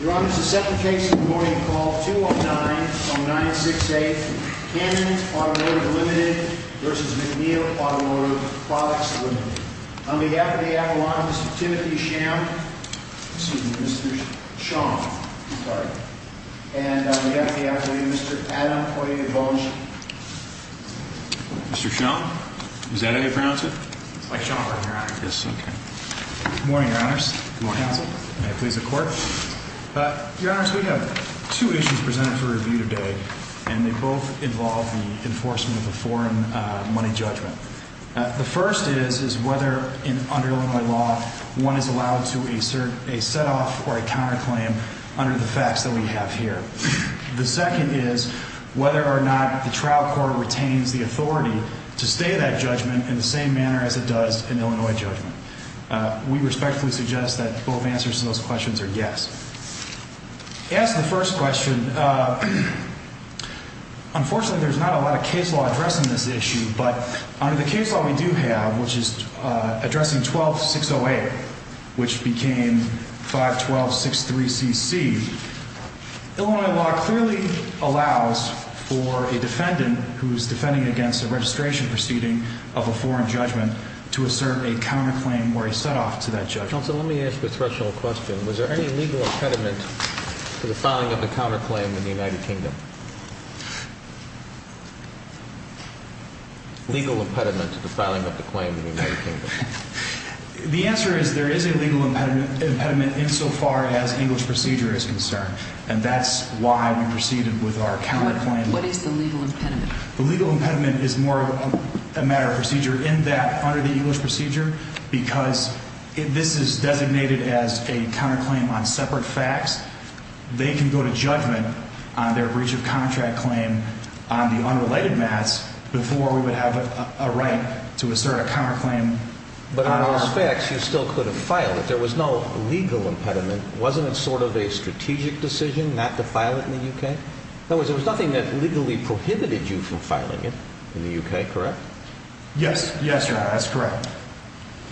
Your Honor, this is the second case of the morning. Call 209-0968, Cannon Automotive Limited v. MacNeil Automotive Products Limited. On behalf of the Appellant, Mr. Timothy Sham, excuse me, Mr. Sham, I'm sorry. And on behalf of the Appellant, Mr. Adam Poitier-Bollinger. Mr. Sham, is that how you pronounce it? It's like Shaw, Your Honor. Yes, okay. Good morning, Your Honors. Good morning, Counsel. May I please have the Court? Your Honors, we have two issues presented for review today, and they both involve the enforcement of a foreign money judgment. The first is whether, under Illinois law, one is allowed to assert a set-off or a counterclaim under the facts that we have here. The second is whether or not the trial court retains the authority to stay that judgment in the same manner as it does an Illinois judgment. We respectfully suggest that both answers to those questions are yes. As to the first question, unfortunately, there's not a lot of case law addressing this issue. But under the case law we do have, which is addressing 12-608, which became 512-63CC, Illinois law clearly allows for a defendant who is defending against a registration proceeding of a foreign judgment to assert a counterclaim or a set-off to that judgment. Counsel, let me ask a threshold question. Was there any legal impediment to the filing of the counterclaim in the United Kingdom? Legal impediment to the filing of the claim in the United Kingdom. The answer is there is a legal impediment insofar as English procedure is concerned. And that's why we proceeded with our counterclaim. What is the legal impediment? The legal impediment is more a matter of procedure in that under the English procedure, because this is designated as a counterclaim on separate facts, they can go to judgment on their breach of contract claim on the unrelated mass before we would have a right to assert a counterclaim. But on those facts, you still could have filed it. There was no legal impediment. Wasn't it sort of a strategic decision not to file it in the UK? In other words, there was nothing that legally prohibited you from filing it in the UK, correct? Yes. Yes, Your Honor, that's correct.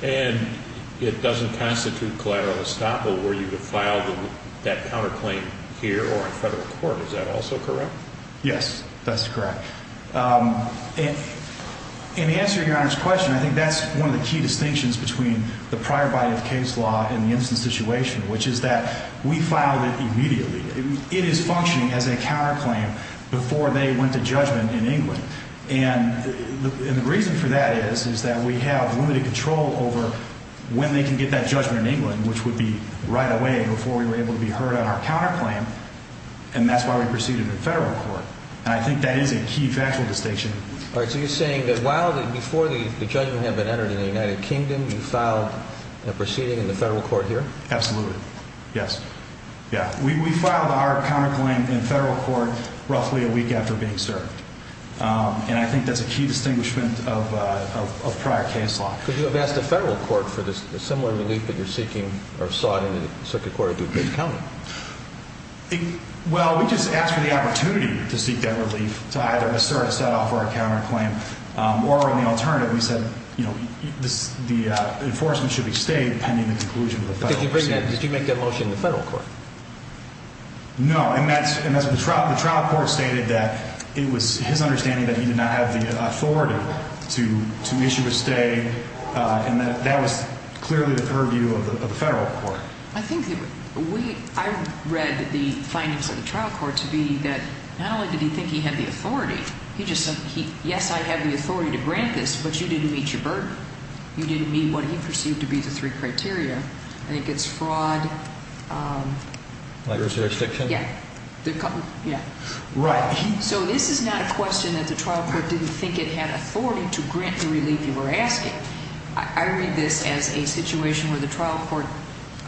And it doesn't constitute collateral estoppel where you could file that counterclaim here or in federal court. Is that also correct? Yes, that's correct. In answering Your Honor's question, I think that's one of the key distinctions between the prior body of case law and the instance situation, which is that we filed it immediately. It is functioning as a counterclaim before they went to judgment in England. And the reason for that is that we have limited control over when they can get that judgment in England, which would be right away before we were able to be heard on our counterclaim, and that's why we proceeded in federal court. And I think that is a key factual distinction. All right, so you're saying that while before the judgment had been entered in the United Kingdom, you filed a proceeding in the federal court here? Absolutely. Yes. We filed our counterclaim in federal court roughly a week after being served. And I think that's a key distinguishment of prior case law. Could you have asked the federal court for this similar relief that you're seeking or sought in the circuit court or did you get counted? Well, we just asked for the opportunity to seek that relief to either assert a set-off or a counterclaim. Or in the alternative, we said, you know, the enforcement should be stayed pending the conclusion of the federal proceeding. Did you make that motion in the federal court? No. And the trial court stated that it was his understanding that he did not have the authority to issue a stay, and that was clearly the purview of the federal court. I think that we – I read the findings of the trial court to be that not only did he think he had the authority, he just said, yes, I have the authority to grant this, but you didn't meet your burden. You didn't meet what he perceived to be the three criteria. I think it's fraud. Like jurisdiction? Yeah. Yeah. Right. So this is not a question that the trial court didn't think it had authority to grant the relief you were asking. I read this as a situation where the trial court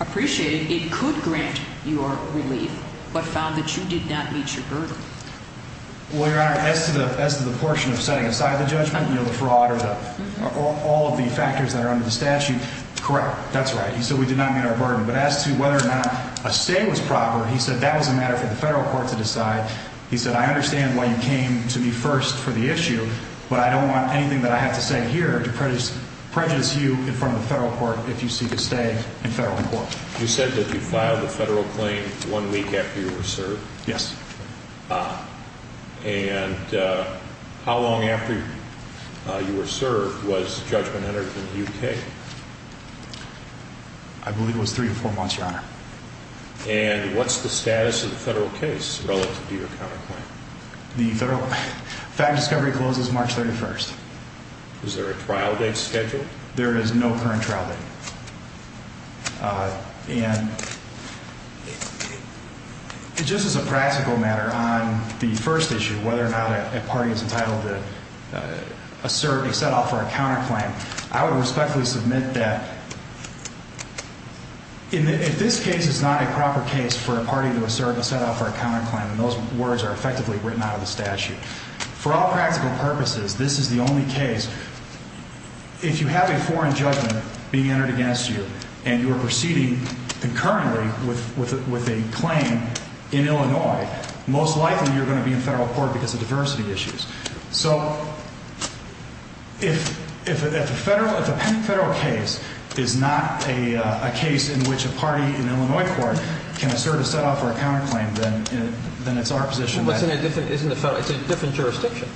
appreciated it could grant your relief but found that you did not meet your burden. Well, Your Honor, as to the portion of setting aside the judgment, you know, the fraud or all of the factors that are under the statute, correct. That's right. He said we did not meet our burden. But as to whether or not a stay was proper, he said that was a matter for the federal court to decide. He said I understand why you came to me first for the issue, but I don't want anything that I have to say here to prejudice you in front of the federal court if you seek a stay in federal court. You said that you filed a federal claim one week after you were served. Yes. And how long after you were served was judgment entered in the U.K.? I believe it was three or four months, Your Honor. And what's the status of the federal case relative to your counterclaim? The federal fact discovery closes March 31st. Is there a trial date scheduled? There is no current trial date. And just as a practical matter, on the first issue, whether or not a party is entitled to assert a set-off or a counterclaim, I would respectfully submit that if this case is not a proper case for a party to assert a set-off or a counterclaim, and those words are effectively written out of the statute, for all practical purposes, this is the only case. If you have a foreign judgment being entered against you and you are proceeding concurrently with a claim in Illinois, most likely you're going to be in federal court because of diversity issues. So if a federal case is not a case in which a party in Illinois court can assert a set-off or a counterclaim, then it's our position that... But isn't it a different jurisdiction?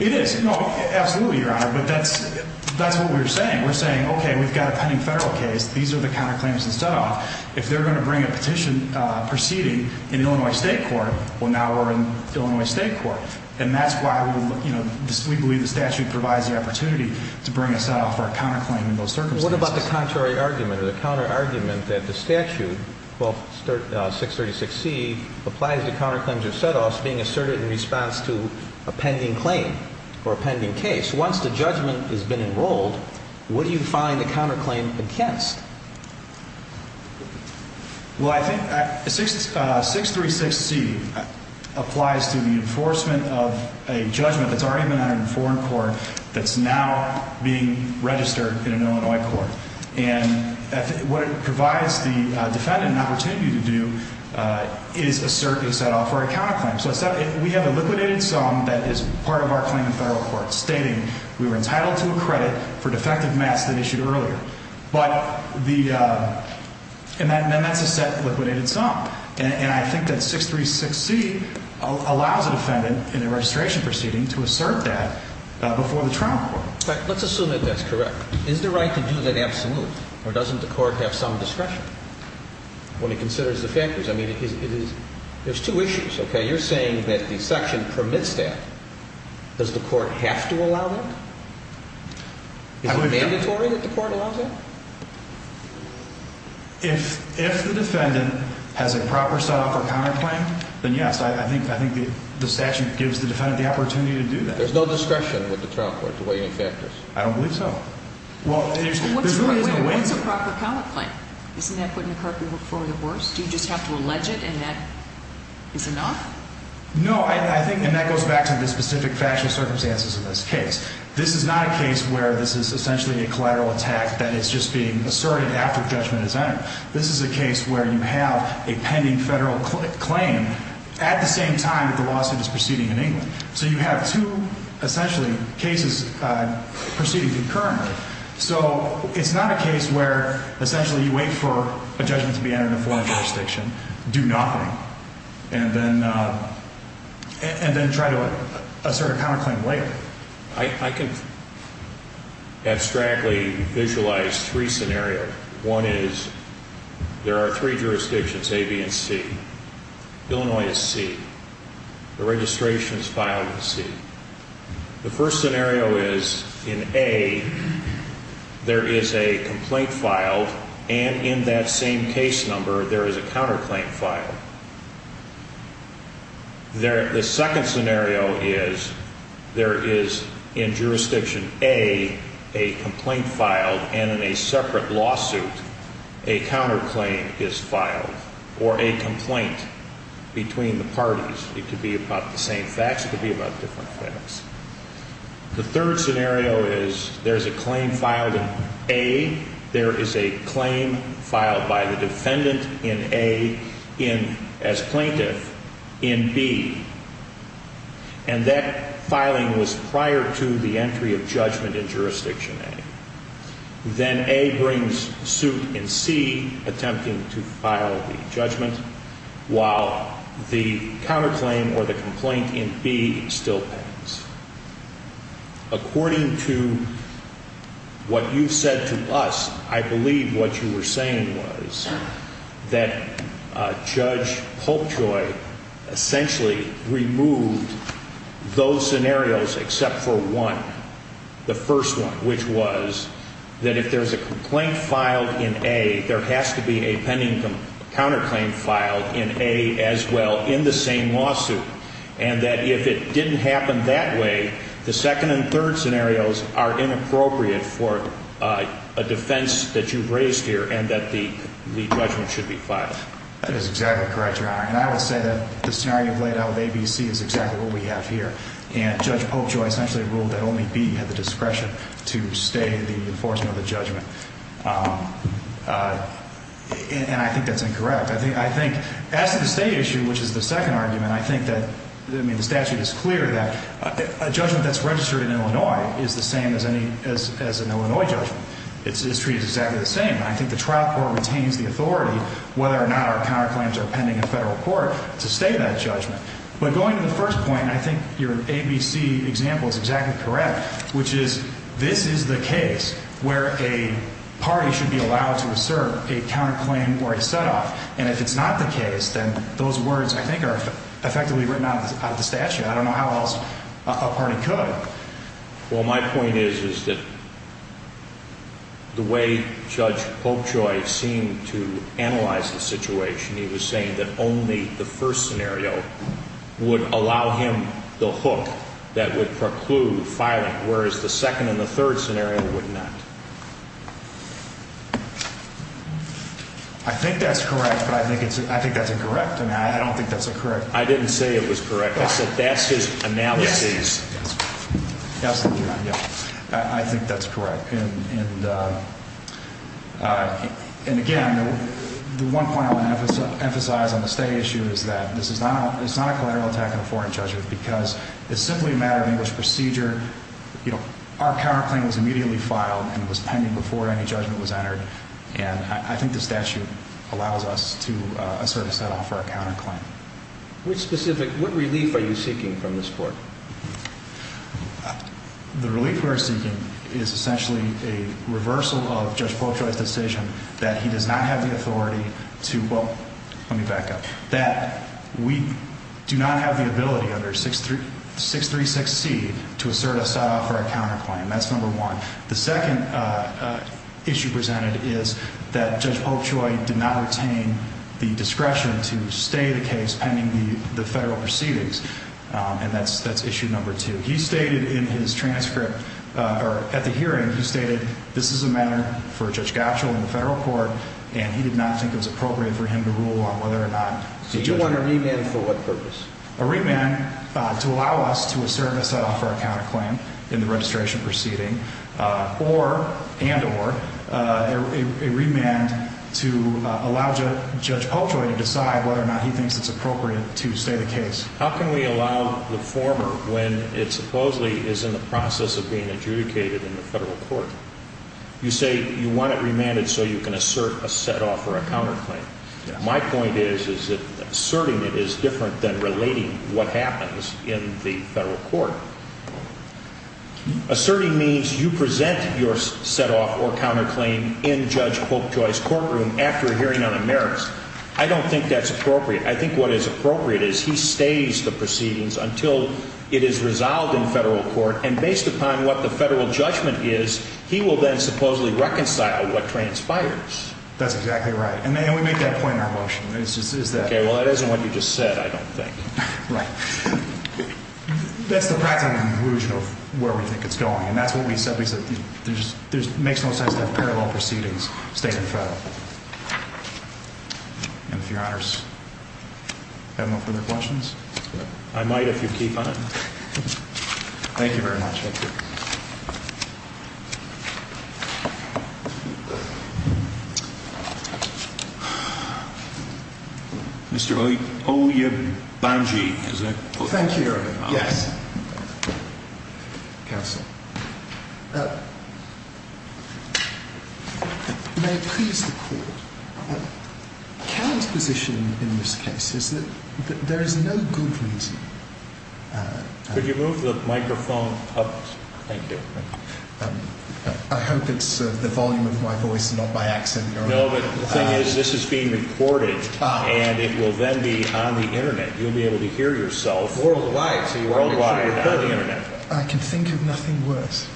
It is. No, absolutely, Your Honor, but that's what we're saying. We're saying, okay, we've got a pending federal case. These are the counterclaims and set-offs. If they're going to bring a petition proceeding in Illinois state court, well, now we're in Illinois state court. And that's why we believe the statute provides the opportunity to bring a set-off or a counterclaim in those circumstances. What about the contrary argument or the counterargument that the statute, 636C, applies to counterclaims or set-offs being asserted in response to a pending claim or a pending case? Once the judgment has been enrolled, what do you find the counterclaim against? Well, I think 636C applies to the enforcement of a judgment that's already been entered in foreign court that's now being registered in an Illinois court. And what it provides the defendant an opportunity to do is assert a set-off or a counterclaim. So we have a liquidated sum that is part of our claim in federal court stating we were entitled to a credit for defective mats that issued earlier. But the – and then that's a set liquidated sum. And I think that 636C allows a defendant in a registration proceeding to assert that before the trial court. Let's assume that that's correct. Is the right to do that absolute or doesn't the court have some discretion when it considers the factors? I mean, it is – there's two issues, okay? You're saying that the section permits that. Does the court have to allow that? Is it mandatory that the court allows that? If the defendant has a proper set-off or counterclaim, then yes, I think the statute gives the defendant the opportunity to do that. There's no discretion with the trial court to weigh any factors? I don't believe so. Well, there really isn't a way to do that. Wait, what's a proper counterclaim? Isn't that putting the court before the horse? Do you just have to allege it and that is enough? No, I think – and that goes back to the specific factual circumstances of this case. This is not a case where this is essentially a collateral attack that is just being asserted after judgment is entered. This is a case where you have a pending federal claim at the same time that the lawsuit is proceeding in England. So you have two, essentially, cases proceeding concurrently. So it's not a case where essentially you wait for a judgment to be entered in a foreign jurisdiction, do nothing, and then try to assert a counterclaim later. I can abstractly visualize three scenarios. One is there are three jurisdictions, A, B, and C. Illinois is C. The registration is filed in C. The first scenario is in A, there is a complaint filed, and in that same case number, there is a counterclaim filed. The second scenario is there is, in jurisdiction A, a complaint filed, and in a separate lawsuit, a counterclaim is filed, or a complaint between the parties. It could be about the same facts. It could be about different facts. The third scenario is there is a claim filed in A. There is a claim filed by the defendant in A as plaintiff in B, and that filing was prior to the entry of judgment in jurisdiction A. Then A brings suit in C, attempting to file the judgment, while the counterclaim or the complaint in B still pans. According to what you said to us, I believe what you were saying was that Judge Polkjoy essentially removed those scenarios except for one, the first one, which was that if there is a complaint filed in A, there has to be a pending counterclaim filed in A as well in the same lawsuit, and that if it didn't happen that way, the second and third scenarios are inappropriate for a defense that you've raised here and that the judgment should be filed. That is exactly correct, Your Honor, and I would say that the scenario laid out with A, B, and C is exactly what we have here, and Judge Polkjoy essentially ruled that only B had the discretion to stay in the enforcement of the judgment, and I think that's incorrect. I think as to the state issue, which is the second argument, I think that the statute is clear that a judgment that's registered in Illinois is the same as an Illinois judgment. It's treated exactly the same. I think the trial court retains the authority, whether or not our counterclaims are pending in federal court, to stay in that judgment. But going to the first point, I think your A, B, C example is exactly correct, which is this is the case where a party should be allowed to assert a counterclaim or a set-off, and if it's not the case, then those words, I think, are effectively written out of the statute. I don't know how else a party could. Well, my point is that the way Judge Polkjoy seemed to analyze the situation, he was saying that only the first scenario would allow him the hook that would preclude filing, whereas the second and the third scenario would not. I think that's correct, but I think that's incorrect. I don't think that's correct. I didn't say it was correct. That's his analysis. I think that's correct. And, again, the one point I want to emphasize on the stay issue is that this is not a collateral attack on a foreign judgment because it's simply a matter of English procedure. Our counterclaim was immediately filed, and it was pending before any judgment was entered, and I think the statute allows us to assert a set-off or a counterclaim. Which specific, what relief are you seeking from this court? The relief we're seeking is essentially a reversal of Judge Polkjoy's decision that he does not have the authority to, well, let me back up, that we do not have the ability under 636C to assert a set-off or a counterclaim. That's number one. The second issue presented is that Judge Polkjoy did not retain the discretion to stay the case pending the federal proceedings, and that's issue number two. He stated in his transcript or at the hearing, he stated this is a matter for Judge Gatchel in the federal court, and he did not think it was appropriate for him to rule on whether or not the judgment. So you want a remand for what purpose? A remand to allow us to assert a set-off or a counterclaim in the registration proceeding, and or a remand to allow Judge Polkjoy to decide whether or not he thinks it's appropriate to stay the case. How can we allow the former when it supposedly is in the process of being adjudicated in the federal court? You say you want it remanded so you can assert a set-off or a counterclaim. My point is that asserting it is different than relating what happens in the federal court. Asserting means you present your set-off or counterclaim in Judge Polkjoy's courtroom after a hearing on a merits. I don't think that's appropriate. I think what is appropriate is he stays the proceedings until it is resolved in federal court, and based upon what the federal judgment is, he will then supposedly reconcile what transpires. That's exactly right, and we make that point in our motion. Okay, well, that isn't what you just said, I don't think. Right. That's the practical conclusion of where we think it's going, and that's what we said. We said there makes no sense to have parallel proceedings, state and federal. And if Your Honors have no further questions? I might if you keep on. Thank you very much. Thank you. Mr. Oyebunji, is that correct? Thank you, Your Honor. Yes. Counsel. May it please the Court. Karen's position in this case is that there is no good reason. Could you move the microphone up? Thank you. I hope it's the volume of my voice, not my accent, Your Honor. No, but the thing is, this is being recorded, and it will then be on the Internet. You'll be able to hear yourself. Worldwide. Worldwide, on the Internet. I can think of nothing worse.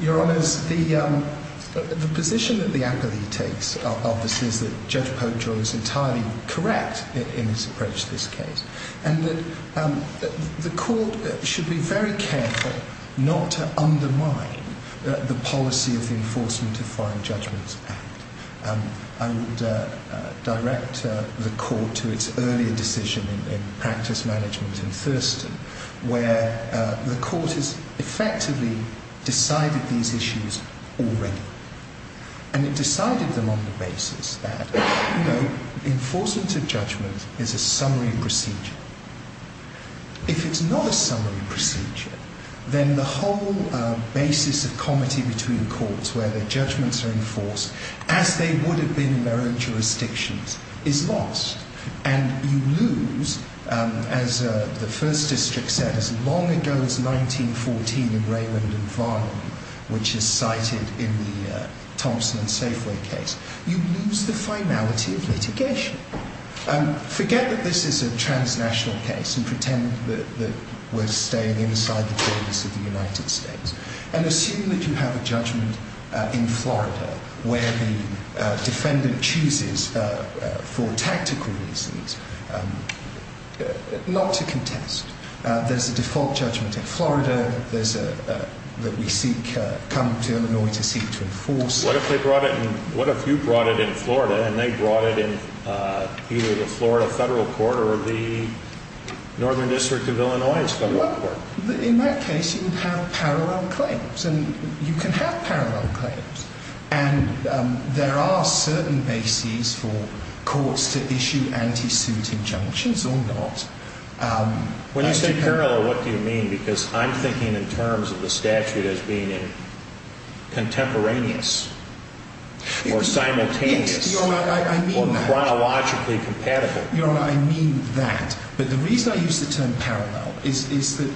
Your Honors, the position that the appellee takes, obviously, is that Judge Poggio is entirely correct in his approach to this case. And that the Court should be very careful not to undermine the policy of the Enforcement of Foreign Judgments Act. I would direct the Court to its earlier decision in practice management in Thurston, where the Court has effectively decided these issues already. And it decided them on the basis that, you know, enforcement of judgment is a summary procedure. If it's not a summary procedure, then the whole basis of comity between courts where their judgments are enforced, as they would have been in their own jurisdictions, is lost. And you lose, as the First District said as long ago as 1914 in Raymond and Varnum, which is cited in the Thompson and Safeway case, you lose the finality of litigation. Forget that this is a transnational case and pretend that we're staying inside the borders of the United States. And assume that you have a judgment in Florida where the defendant chooses, for tactical reasons, not to contest. There's a default judgment in Florida that we come to Illinois to seek to enforce. What if you brought it in Florida and they brought it in either the Florida Federal Court or the Northern District of Illinois's Federal Court? In that case, you would have parallel claims. And you can have parallel claims. And there are certain bases for courts to issue anti-suit injunctions or not. When you say parallel, what do you mean? Because I'm thinking in terms of the statute as being contemporaneous or simultaneous or chronologically compatible. Your Honor, I mean that. But the reason I use the term parallel is that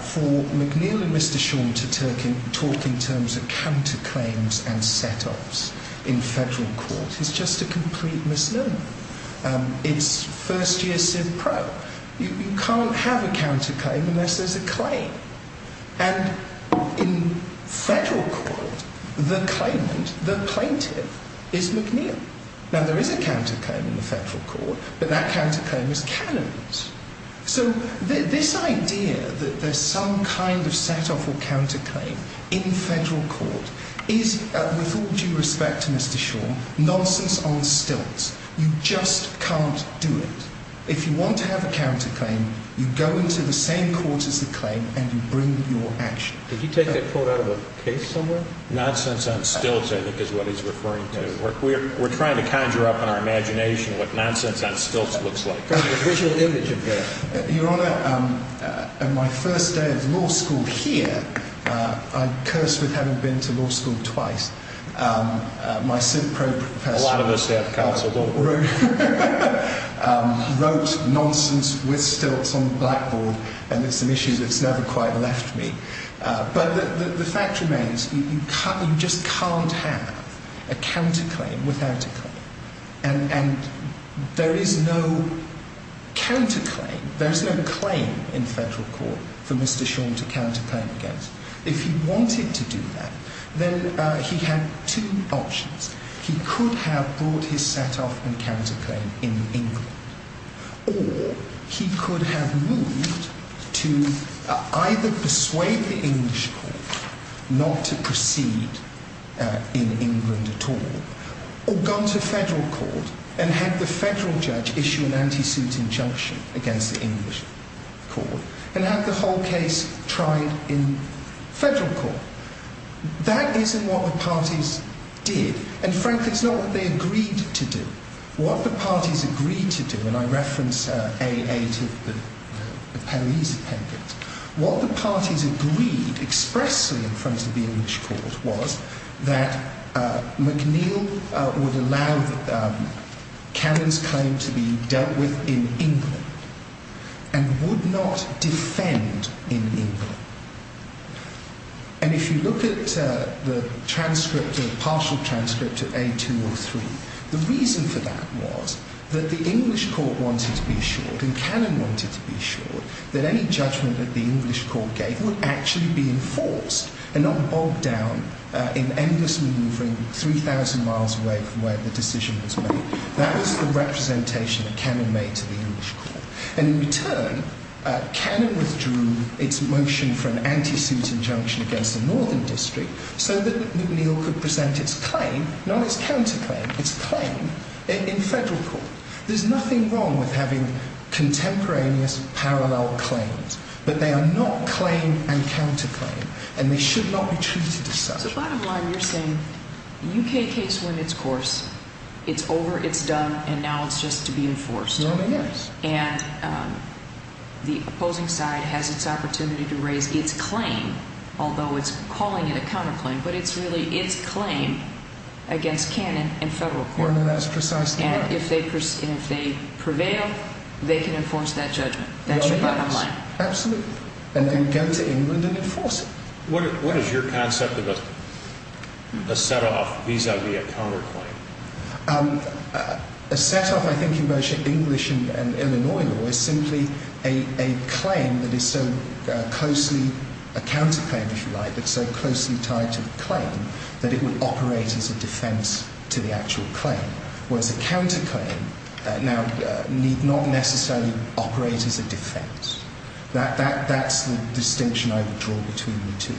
for McNeil and Mr. Shawn to talk in terms of counterclaims and set-offs in federal court is just a complete misnomer. It's first-year civ pro. You can't have a counterclaim unless there's a claim. And in federal court, the claimant, the plaintiff, is McNeil. Now, there is a counterclaim in the federal court, but that counterclaim is canonized. So this idea that there's some kind of set-off or counterclaim in federal court is, with all due respect to Mr. Shawn, nonsense on stilts. You just can't do it. If you want to have a counterclaim, you go into the same court as the claim and you bring your action. Did he take that quote out of a case somewhere? Nonsense on stilts, I think, is what he's referring to. We're trying to conjure up in our imagination what nonsense on stilts looks like. The visual image of it. Your Honor, on my first day of law school here, I'm cursed with having been to law school twice. My civ pro professor wrote nonsense with stilts on the blackboard, and it's an issue that's never quite left me. But the fact remains, you just can't have a counterclaim without a claim. And there is no counterclaim, there is no claim in federal court for Mr. Shawn to counterclaim against. If he wanted to do that, then he had two options. He could have brought his set-off and counterclaim in England. Or he could have moved to either persuade the English court not to proceed in England at all, or gone to federal court and had the federal judge issue an anti-suit injunction against the English court and have the whole case tried in federal court. That isn't what the parties did. And frankly, it's not what they agreed to do. What the parties agreed to do, and I reference A8 of the Perry's appendix, what the parties agreed expressly in front of the English court was that McNeill would allow Cannon's claim to be dealt with in England and would not defend in England. And if you look at the transcript, the partial transcript of A203, the reason for that was that the English court wanted to be assured, and Cannon wanted to be assured, that any judgment that the English court gave would actually be enforced and not bogged down in endlessly moving 3,000 miles away from where the decision was made. That was the representation that Cannon made to the English court. And in return, Cannon withdrew its motion for an anti-suit injunction against the Northern District so that McNeill could present its claim, not its counterclaim, its claim in federal court. There's nothing wrong with having contemporaneous parallel claims, but they are not claim and counterclaim, and they should not be treated as such. So bottom line, you're saying the UK case went its course, it's over, it's done, and now it's just to be enforced. And the opposing side has its opportunity to raise its claim, although it's calling it a counterclaim, but it's really its claim against Cannon in federal court. And if they prevail, they can enforce that judgment. That's your bottom line. Absolutely. And then go to England and enforce it. What is your concept of a set-off vis-à-vis a counterclaim? A set-off, I think, in both English and Illinois law is simply a claim that is so closely, a counterclaim, if you like, that's so closely tied to the claim that it would operate as a defense to the actual claim, whereas a counterclaim now need not necessarily operate as a defense. That's the distinction I would draw between the two.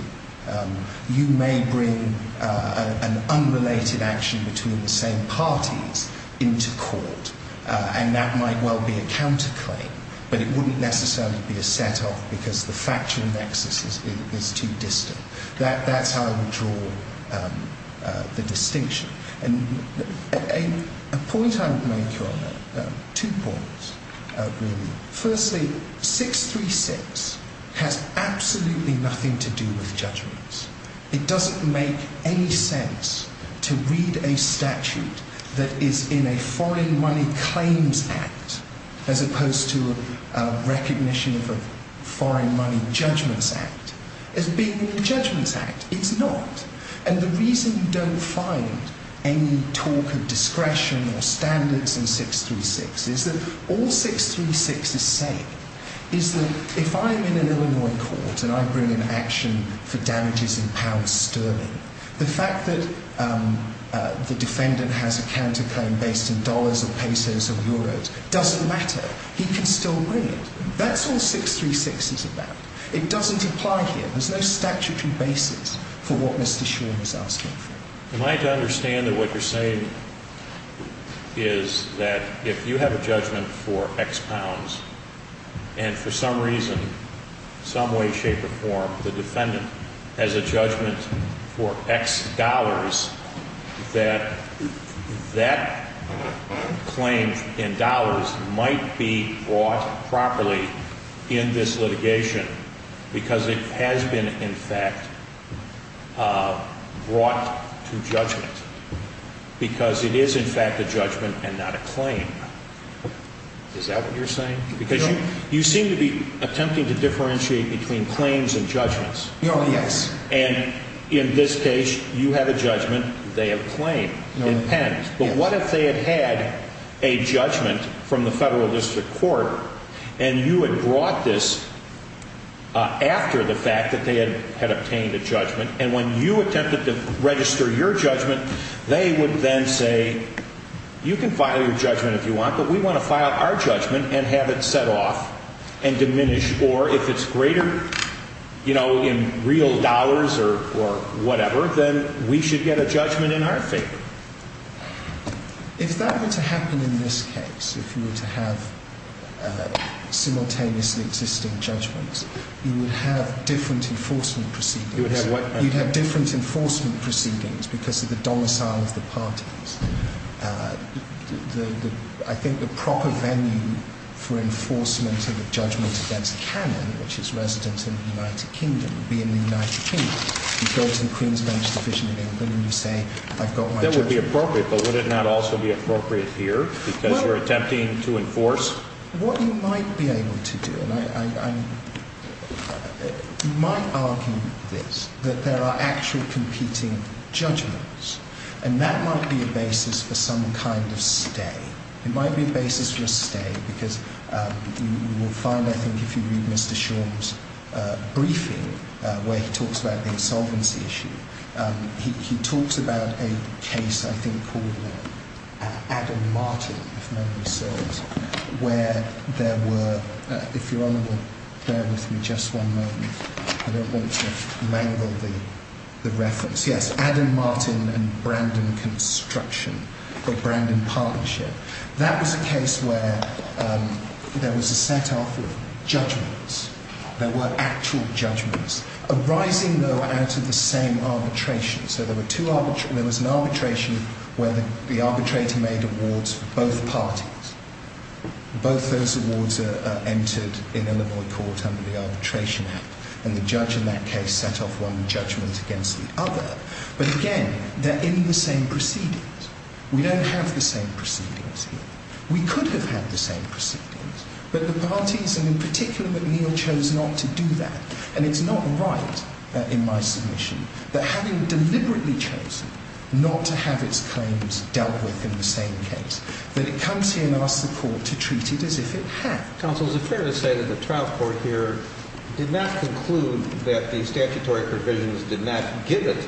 You may bring an unrelated action between the same parties into court, and that might well be a counterclaim, but it wouldn't necessarily be a set-off because the factual nexus is too distant. That's how I would draw the distinction. A point I would make, Your Honor, two points, really. Firstly, 636 has absolutely nothing to do with judgments. It doesn't make any sense to read a statute that is in a foreign money claims act as opposed to a recognition of a foreign money judgments act as being a judgments act. It's not. And the reason you don't find any talk of discretion or standards in 636 is that all 636 is saying is that if I'm in an Illinois court and I bring an action for damages in pounds sterling, the fact that the defendant has a counterclaim based in dollars or pesos or euros doesn't matter. He can still bring it. That's all 636 is about. It doesn't apply here. There's no statutory basis for what Mr. Shaw is asking for. Am I to understand that what you're saying is that if you have a judgment for X pounds and for some reason, some way, shape, or form, the defendant has a judgment for X dollars, that that claim in dollars might be brought properly in this litigation because it has been, in fact, brought to judgment because it is, in fact, a judgment and not a claim. Is that what you're saying? Because you seem to be attempting to differentiate between claims and judgments. Oh, yes. And in this case, you have a judgment. They have a claim in pen. But what if they had had a judgment from the federal district court and you had brought this after the fact that they had obtained a judgment, and when you attempted to register your judgment, they would then say, you can file your judgment if you want, but we want to file our judgment and have it set off and diminished, or if it's greater, you know, in real dollars or whatever, then we should get a judgment in our favor. If that were to happen in this case, if you were to have simultaneously existing judgments, you would have different enforcement proceedings. You would have what? You'd have different enforcement proceedings because of the domicile of the parties. I think the proper venue for enforcement of a judgment against Canon, which is resident in the United Kingdom, would be in the United Kingdom. You go to the Queen's Bench Division in England and you say, I've got my judgment. That would be appropriate, but would it not also be appropriate here because you're attempting to enforce? What you might be able to do, and I might argue this, that there are actual competing judgments, and that might be a basis for some kind of stay. It might be a basis for a stay because you will find, I think, if you read Mr. Shaw's briefing, where he talks about the insolvency issue, he talks about a case I think called Adam Martin, if memory serves, where there were, if Your Honor will bear with me just one moment. I don't want to mangle the reference. Yes, Adam Martin and Brandon Construction, or Brandon Partnership. That was a case where there was a set-off of judgments. There were actual judgments arising, though, out of the same arbitration. So there was an arbitration where the arbitrator made awards for both parties. Both those awards are entered in Illinois court under the arbitration act, and the judge in that case set off one judgment against the other. But again, they're in the same proceedings. We don't have the same proceedings here. We could have had the same proceedings, but the parties, and in particular McNeil, chose not to do that. And it's not right in my submission that having deliberately chosen not to have its claims dealt with in the same case, that it comes here and asks the court to treat it as if it had. Counsel, is it fair to say that the trial court here did not conclude that the statutory provisions did not give it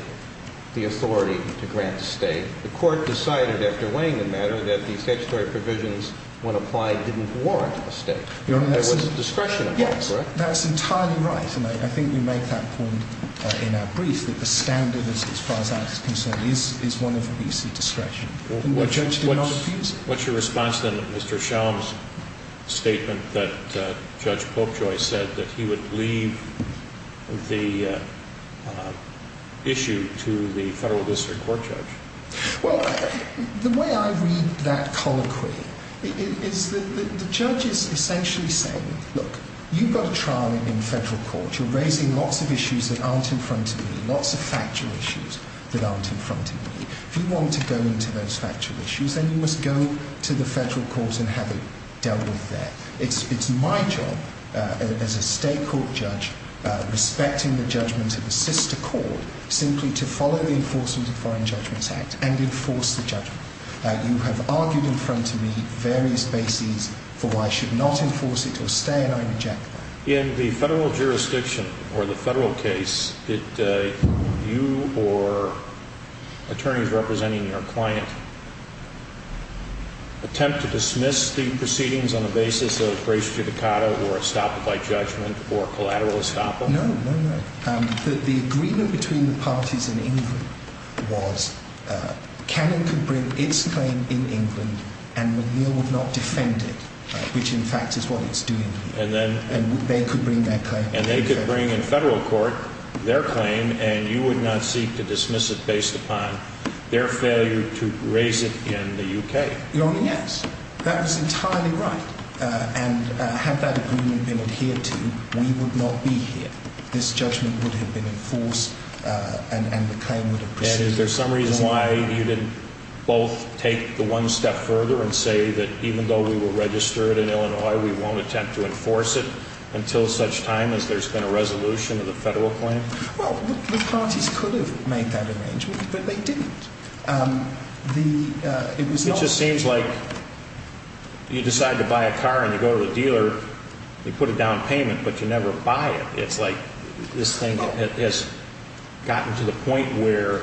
the authority to grant a stay? The court decided, after weighing the matter, that the statutory provisions, when applied, didn't warrant a stay. There was a discretion involved, correct? Yes, that's entirely right. And I think you make that point in our brief, that the standard, as far as that is concerned, is one of easy discretion. And the judge did not abuse it. What's your response, then, to Mr. Shellam's statement that Judge Popejoy said that he would leave the issue to the federal district court judge? Well, the way I read that colloquy is that the judge is essentially saying, look, you've got a trial in federal court. You're raising lots of issues that aren't in front of me, lots of factual issues that aren't in front of me. If you want to go into those factual issues, then you must go to the federal court and have it dealt with there. It's my job, as a state court judge, respecting the judgment of the sister court, simply to follow the Enforcement of Foreign Judgments Act and enforce the judgment. You have argued in front of me various bases for why I should not enforce it or stay, and I reject that. In the federal jurisdiction or the federal case, did you or attorneys representing your client attempt to dismiss the proceedings on the basis of grace judicata or estoppel by judgment or collateral estoppel? No, no, no. The agreement between the parties in England was Cannon could bring its claim in England and McNeill would not defend it, which, in fact, is what it's doing here. And they could bring their claim in the UK. And they could bring in federal court their claim, and you would not seek to dismiss it based upon their failure to raise it in the UK. Your Honor, yes. That was entirely right. And had that agreement been adhered to, we would not be here. This judgment would have been enforced, and the claim would have proceeded. And is there some reason why you didn't both take the one step further and say that even though we were registered in Illinois, we won't attempt to enforce it until such time as there's been a resolution of the federal claim? Well, the parties could have made that arrangement, but they didn't. It just seems like you decide to buy a car and you go to the dealer, they put a down payment, but you never buy it. It's like this thing has gotten to the point where,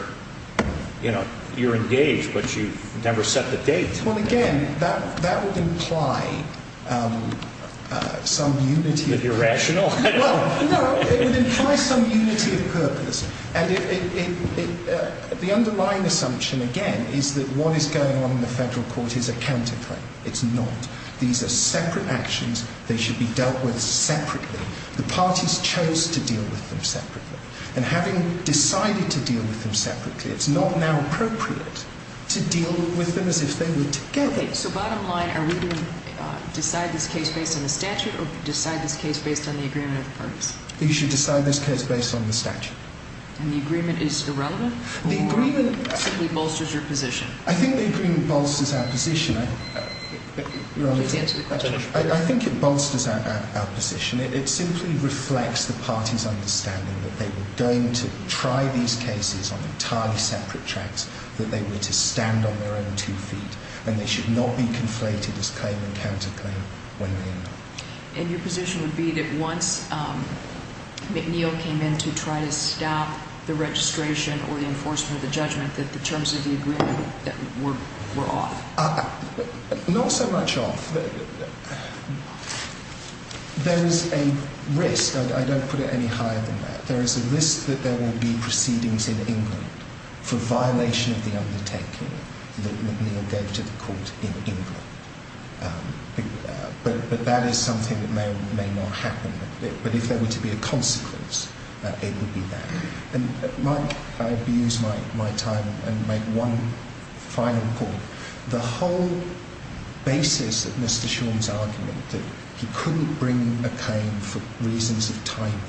you know, you're engaged, but you've never set the date. Well, again, that would imply some unity of purpose. Is it irrational? No, it would imply some unity of purpose. And the underlying assumption, again, is that what is going on in the federal court is a counterclaim. It's not. These are separate actions. They should be dealt with separately. The parties chose to deal with them separately. And having decided to deal with them separately, it's not now appropriate to deal with them as if they were together. So bottom line, are we going to decide this case based on the statute or decide this case based on the agreement of the parties? You should decide this case based on the statute. And the agreement is irrelevant? The agreement simply bolsters your position. I think the agreement bolsters our position. Please answer the question. I think it bolsters our position. It simply reflects the parties' understanding that they were going to try these cases on entirely separate tracks, that they were to stand on their own two feet, and they should not be conflated as claim and counterclaim when they end up. And your position would be that once McNeil came in to try to stop the registration or the enforcement of the judgment, that the terms of the agreement were off? Not so much off. There is a risk. I don't put it any higher than that. There is a risk that there will be proceedings in England for violation of the undertaking that McNeil gave to the court in England. But that is something that may or may not happen. But if there were to be a consequence, it would be that. Mike, I abuse my time and make one final point. The whole basis of Mr. Sean's argument that he couldn't bring a claim for reasons of timing,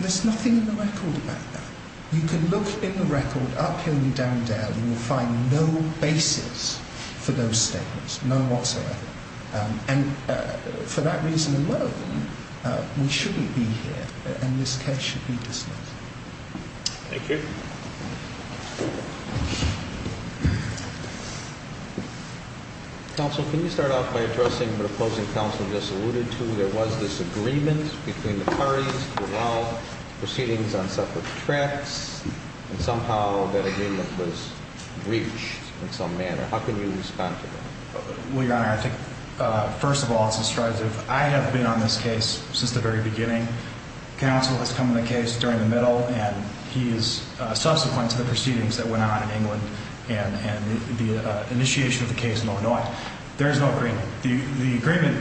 there is nothing in the record about that. You can look in the record up hill and down dale and you will find no basis for those statements, none whatsoever. And for that reason alone, we shouldn't be here, and this case should be dismissed. Thank you. Counsel, can you start off by addressing the opposing counsel just alluded to? There was this agreement between the parties to allow proceedings on separate tracks, and somehow that agreement was breached in some manner. How can you respond to that? Well, Your Honor, I think, first of all, it's a strategy. I have been on this case since the very beginning. Counsel has come to the case during the middle, and he is subsequent to the proceedings that went on in England and the initiation of the case in Illinois. There is no agreement. The agreement,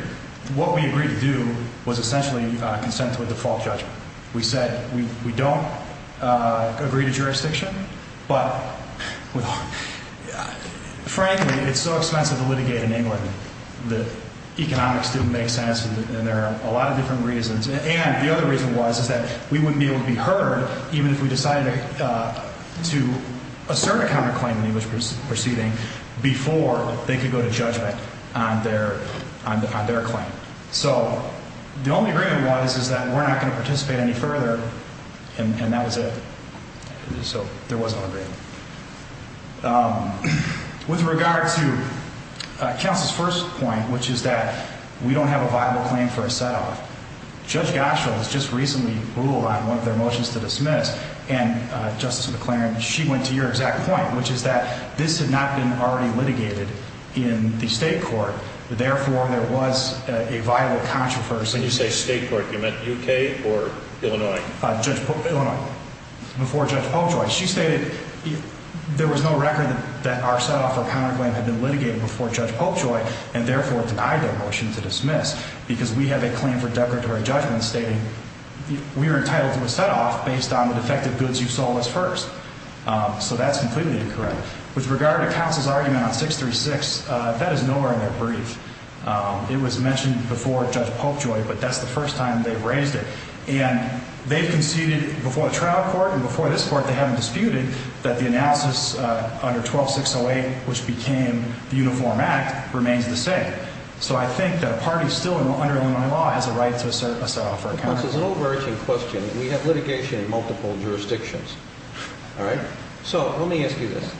what we agreed to do was essentially consent to a default judgment. We said we don't agree to jurisdiction, but frankly, it's so expensive to litigate in England that economics didn't make sense, and there are a lot of different reasons. And the other reason was that we wouldn't be able to be heard even if we decided to assert a counterclaim in the English proceeding before they could go to judgment on their claim. So the only agreement was is that we're not going to participate any further, and that was it. So there was no agreement. With regard to counsel's first point, which is that we don't have a viable claim for a set-off, Judge Goschel has just recently ruled on one of their motions to dismiss, and Justice McLaren, she went to your exact point, which is that this had not been already litigated in the state court. Therefore, there was a viable controversy. When you say state court, you meant U.K. or Illinois? Illinois, before Judge Popejoy. She stated there was no record that our set-off or counterclaim had been litigated before Judge Popejoy, and therefore denied their motion to dismiss, because we have a claim for declaratory judgment stating we were entitled to a set-off based on the defective goods you sold us first. So that's completely incorrect. With regard to counsel's argument on 636, that is nowhere in their brief. It was mentioned before Judge Popejoy, but that's the first time they've raised it. And they've conceded before the trial court and before this court, they haven't disputed, that the analysis under 12608, which became the Uniform Act, remains the same. So I think that a party still under Illinois law has a right to assert a set-off or a counterclaim. This is an overarching question. We have litigation in multiple jurisdictions. All right? So let me ask you this.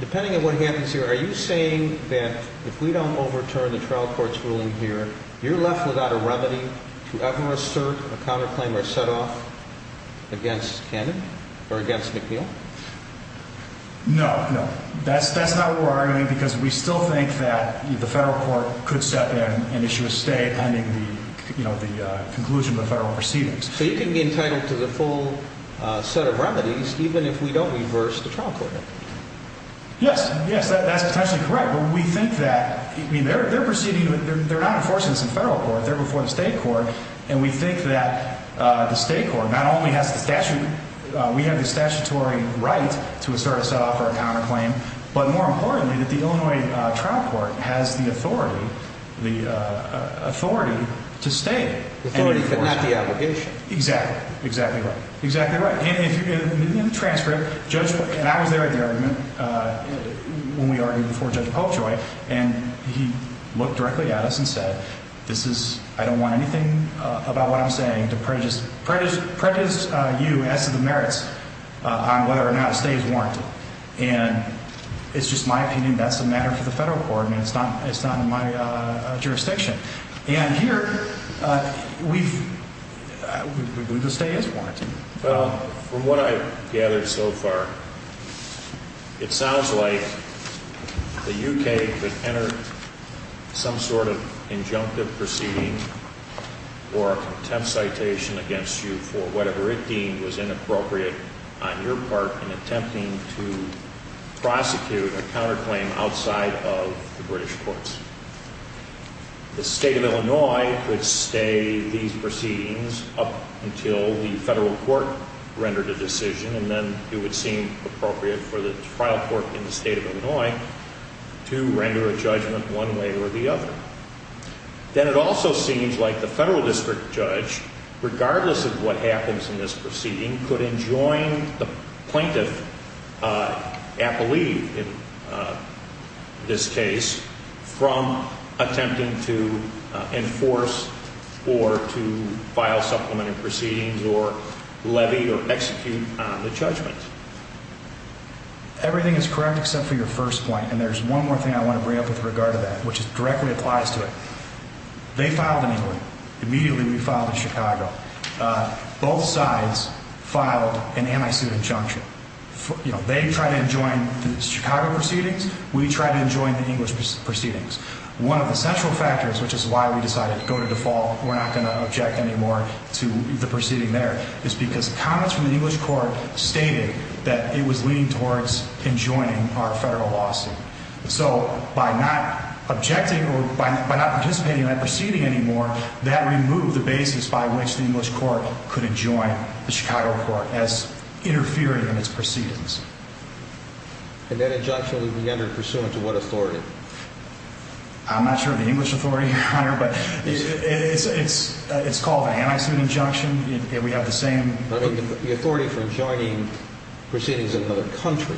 Depending on what happens here, are you saying that if we don't overturn the trial court's ruling here, you're left without a remedy to ever assert a counterclaim or a set-off against Cannon or against McNeil? No, no. That's not what we're arguing because we still think that the federal court could step in and issue a state ending the conclusion of the federal proceedings. So you can be entitled to the full set of remedies even if we don't reverse the trial court? Yes. Yes, that's potentially correct. But we think that they're proceeding, they're not enforcing this in federal court. They're before the state court. And we think that the state court not only has the statute, we have the statutory right to assert a set-off or a counterclaim, but more importantly that the Illinois trial court has the authority, the authority to stay. The authority but not the obligation. Exactly. Exactly right. Exactly right. And in the transcript, Judge, and I was there at the argument when we argued before Judge Popejoy, and he looked directly at us and said, I don't want anything about what I'm saying to prejudice you as to the merits on whether or not a stay is warranted. And it's just my opinion. That's a matter for the federal court, and it's not in my jurisdiction. And here, we believe the stay is warranted. Well, from what I've gathered so far, it sounds like the U.K. could enter some sort of injunctive proceeding or a contempt citation against you for whatever it deemed was inappropriate on your part in attempting to prosecute a counterclaim outside of the British courts. The state of Illinois could stay these proceedings up until the federal court rendered a decision, and then it would seem appropriate for the trial court in the state of Illinois to render a judgment one way or the other. Then it also seems like the federal district judge, regardless of what happens in this proceeding, could enjoin the plaintiff, I believe in this case, from attempting to enforce or to file supplementary proceedings or levy or execute on the judgment. Everything is correct except for your first point, and there's one more thing I want to bring up with regard to that, which directly applies to it. They filed in England. Immediately, we filed in Chicago. Both sides filed an anti-suit injunction. They tried to enjoin the Chicago proceedings. We tried to enjoin the English proceedings. One of the central factors, which is why we decided to go to default, we're not going to object anymore to the proceeding there, is because comments from the English court stated that it was leaning towards enjoining our federal lawsuit. So by not objecting or by not participating in that proceeding anymore, that removed the basis by which the English court could enjoin the Chicago court as interfering in its proceedings. And that injunction would be entered pursuant to what authority? I'm not sure of the English authority, Your Honor, but it's called an anti-suit injunction, and we have the same... The authority for enjoining proceedings in another country.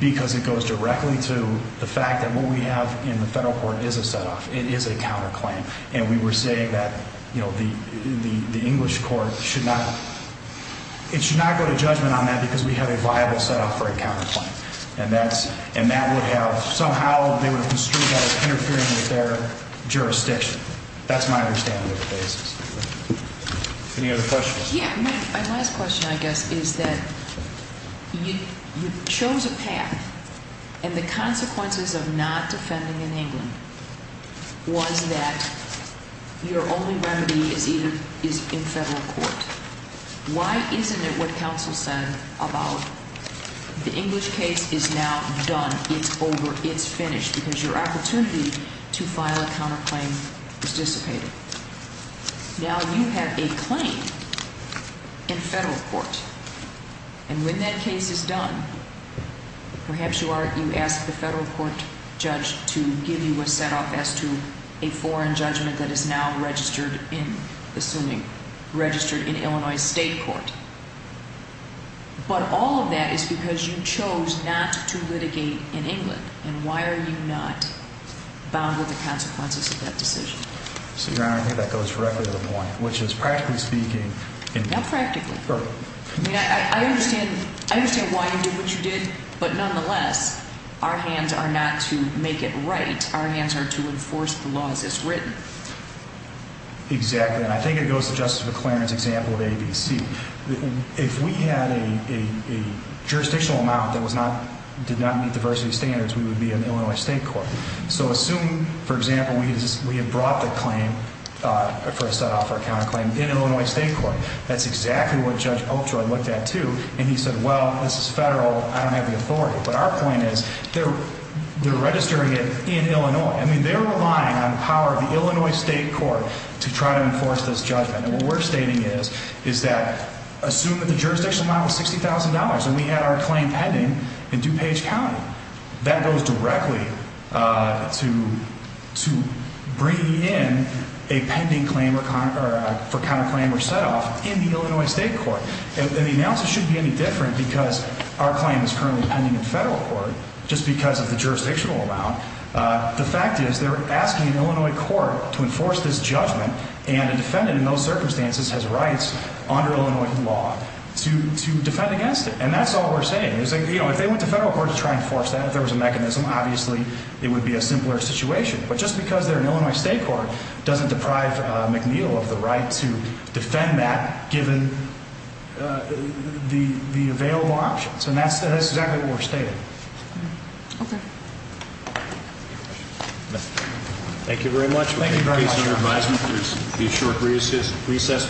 Because it goes directly to the fact that what we have in the federal court is a set-off. It is a counterclaim. And we were saying that the English court should not... It should not go to judgment on that because we have a viable set-off for a counterclaim. And that would have... Somehow, they would have construed that as interfering with their jurisdiction. That's my understanding of the basis. Any other questions? My last question, I guess, is that you chose a path, and the consequences of not defending in England was that your only remedy is in federal court. Why isn't it what counsel said about the English case is now done? It's over. It's finished because your opportunity to file a counterclaim has dissipated. Now you have a claim in federal court. And when that case is done, perhaps you ask the federal court judge to give you a set-off as to a foreign judgment that is now registered in, assuming, registered in Illinois state court. But all of that is because you chose not to litigate in England. And why are you not bound with the consequences of that decision? Your Honor, I think that goes directly to the point, which is, practically speaking... Not practically. Perfect. I understand why you did what you did, but nonetheless, our hands are not to make it right. Our hands are to enforce the laws as written. Exactly. And I think it goes to Justice McClaren's example of ABC. If we had a jurisdictional amount that did not meet diversity standards, we would be in Illinois state court. So assume, for example, we had brought the claim for a set-off for a counterclaim in Illinois state court. That's exactly what Judge Oakjoy looked at, too. And he said, well, this is federal. I don't have the authority. But our point is, they're registering it in Illinois. I mean, they're relying on the power of the Illinois state court to try to enforce this judgment. And what we're stating is that, assume that the jurisdictional amount was $60,000 and we had our claim pending in DuPage County. That goes directly to bringing in a pending claim for counterclaim or set-off in the Illinois state court. And the analysis shouldn't be any different because our claim is currently pending in federal court just because of the jurisdictional amount. The fact is, they're asking an Illinois court to enforce this judgment. And a defendant in those circumstances has rights under Illinois law to defend against it. And that's all we're saying. If they went to federal court to try and enforce that, if there was a mechanism, obviously it would be a simpler situation. But just because they're in Illinois state court doesn't deprive McNeil of the right to defend that given the available options. And that's exactly what we're stating. Okay. Any questions? No. Thank you very much. Thank you very much.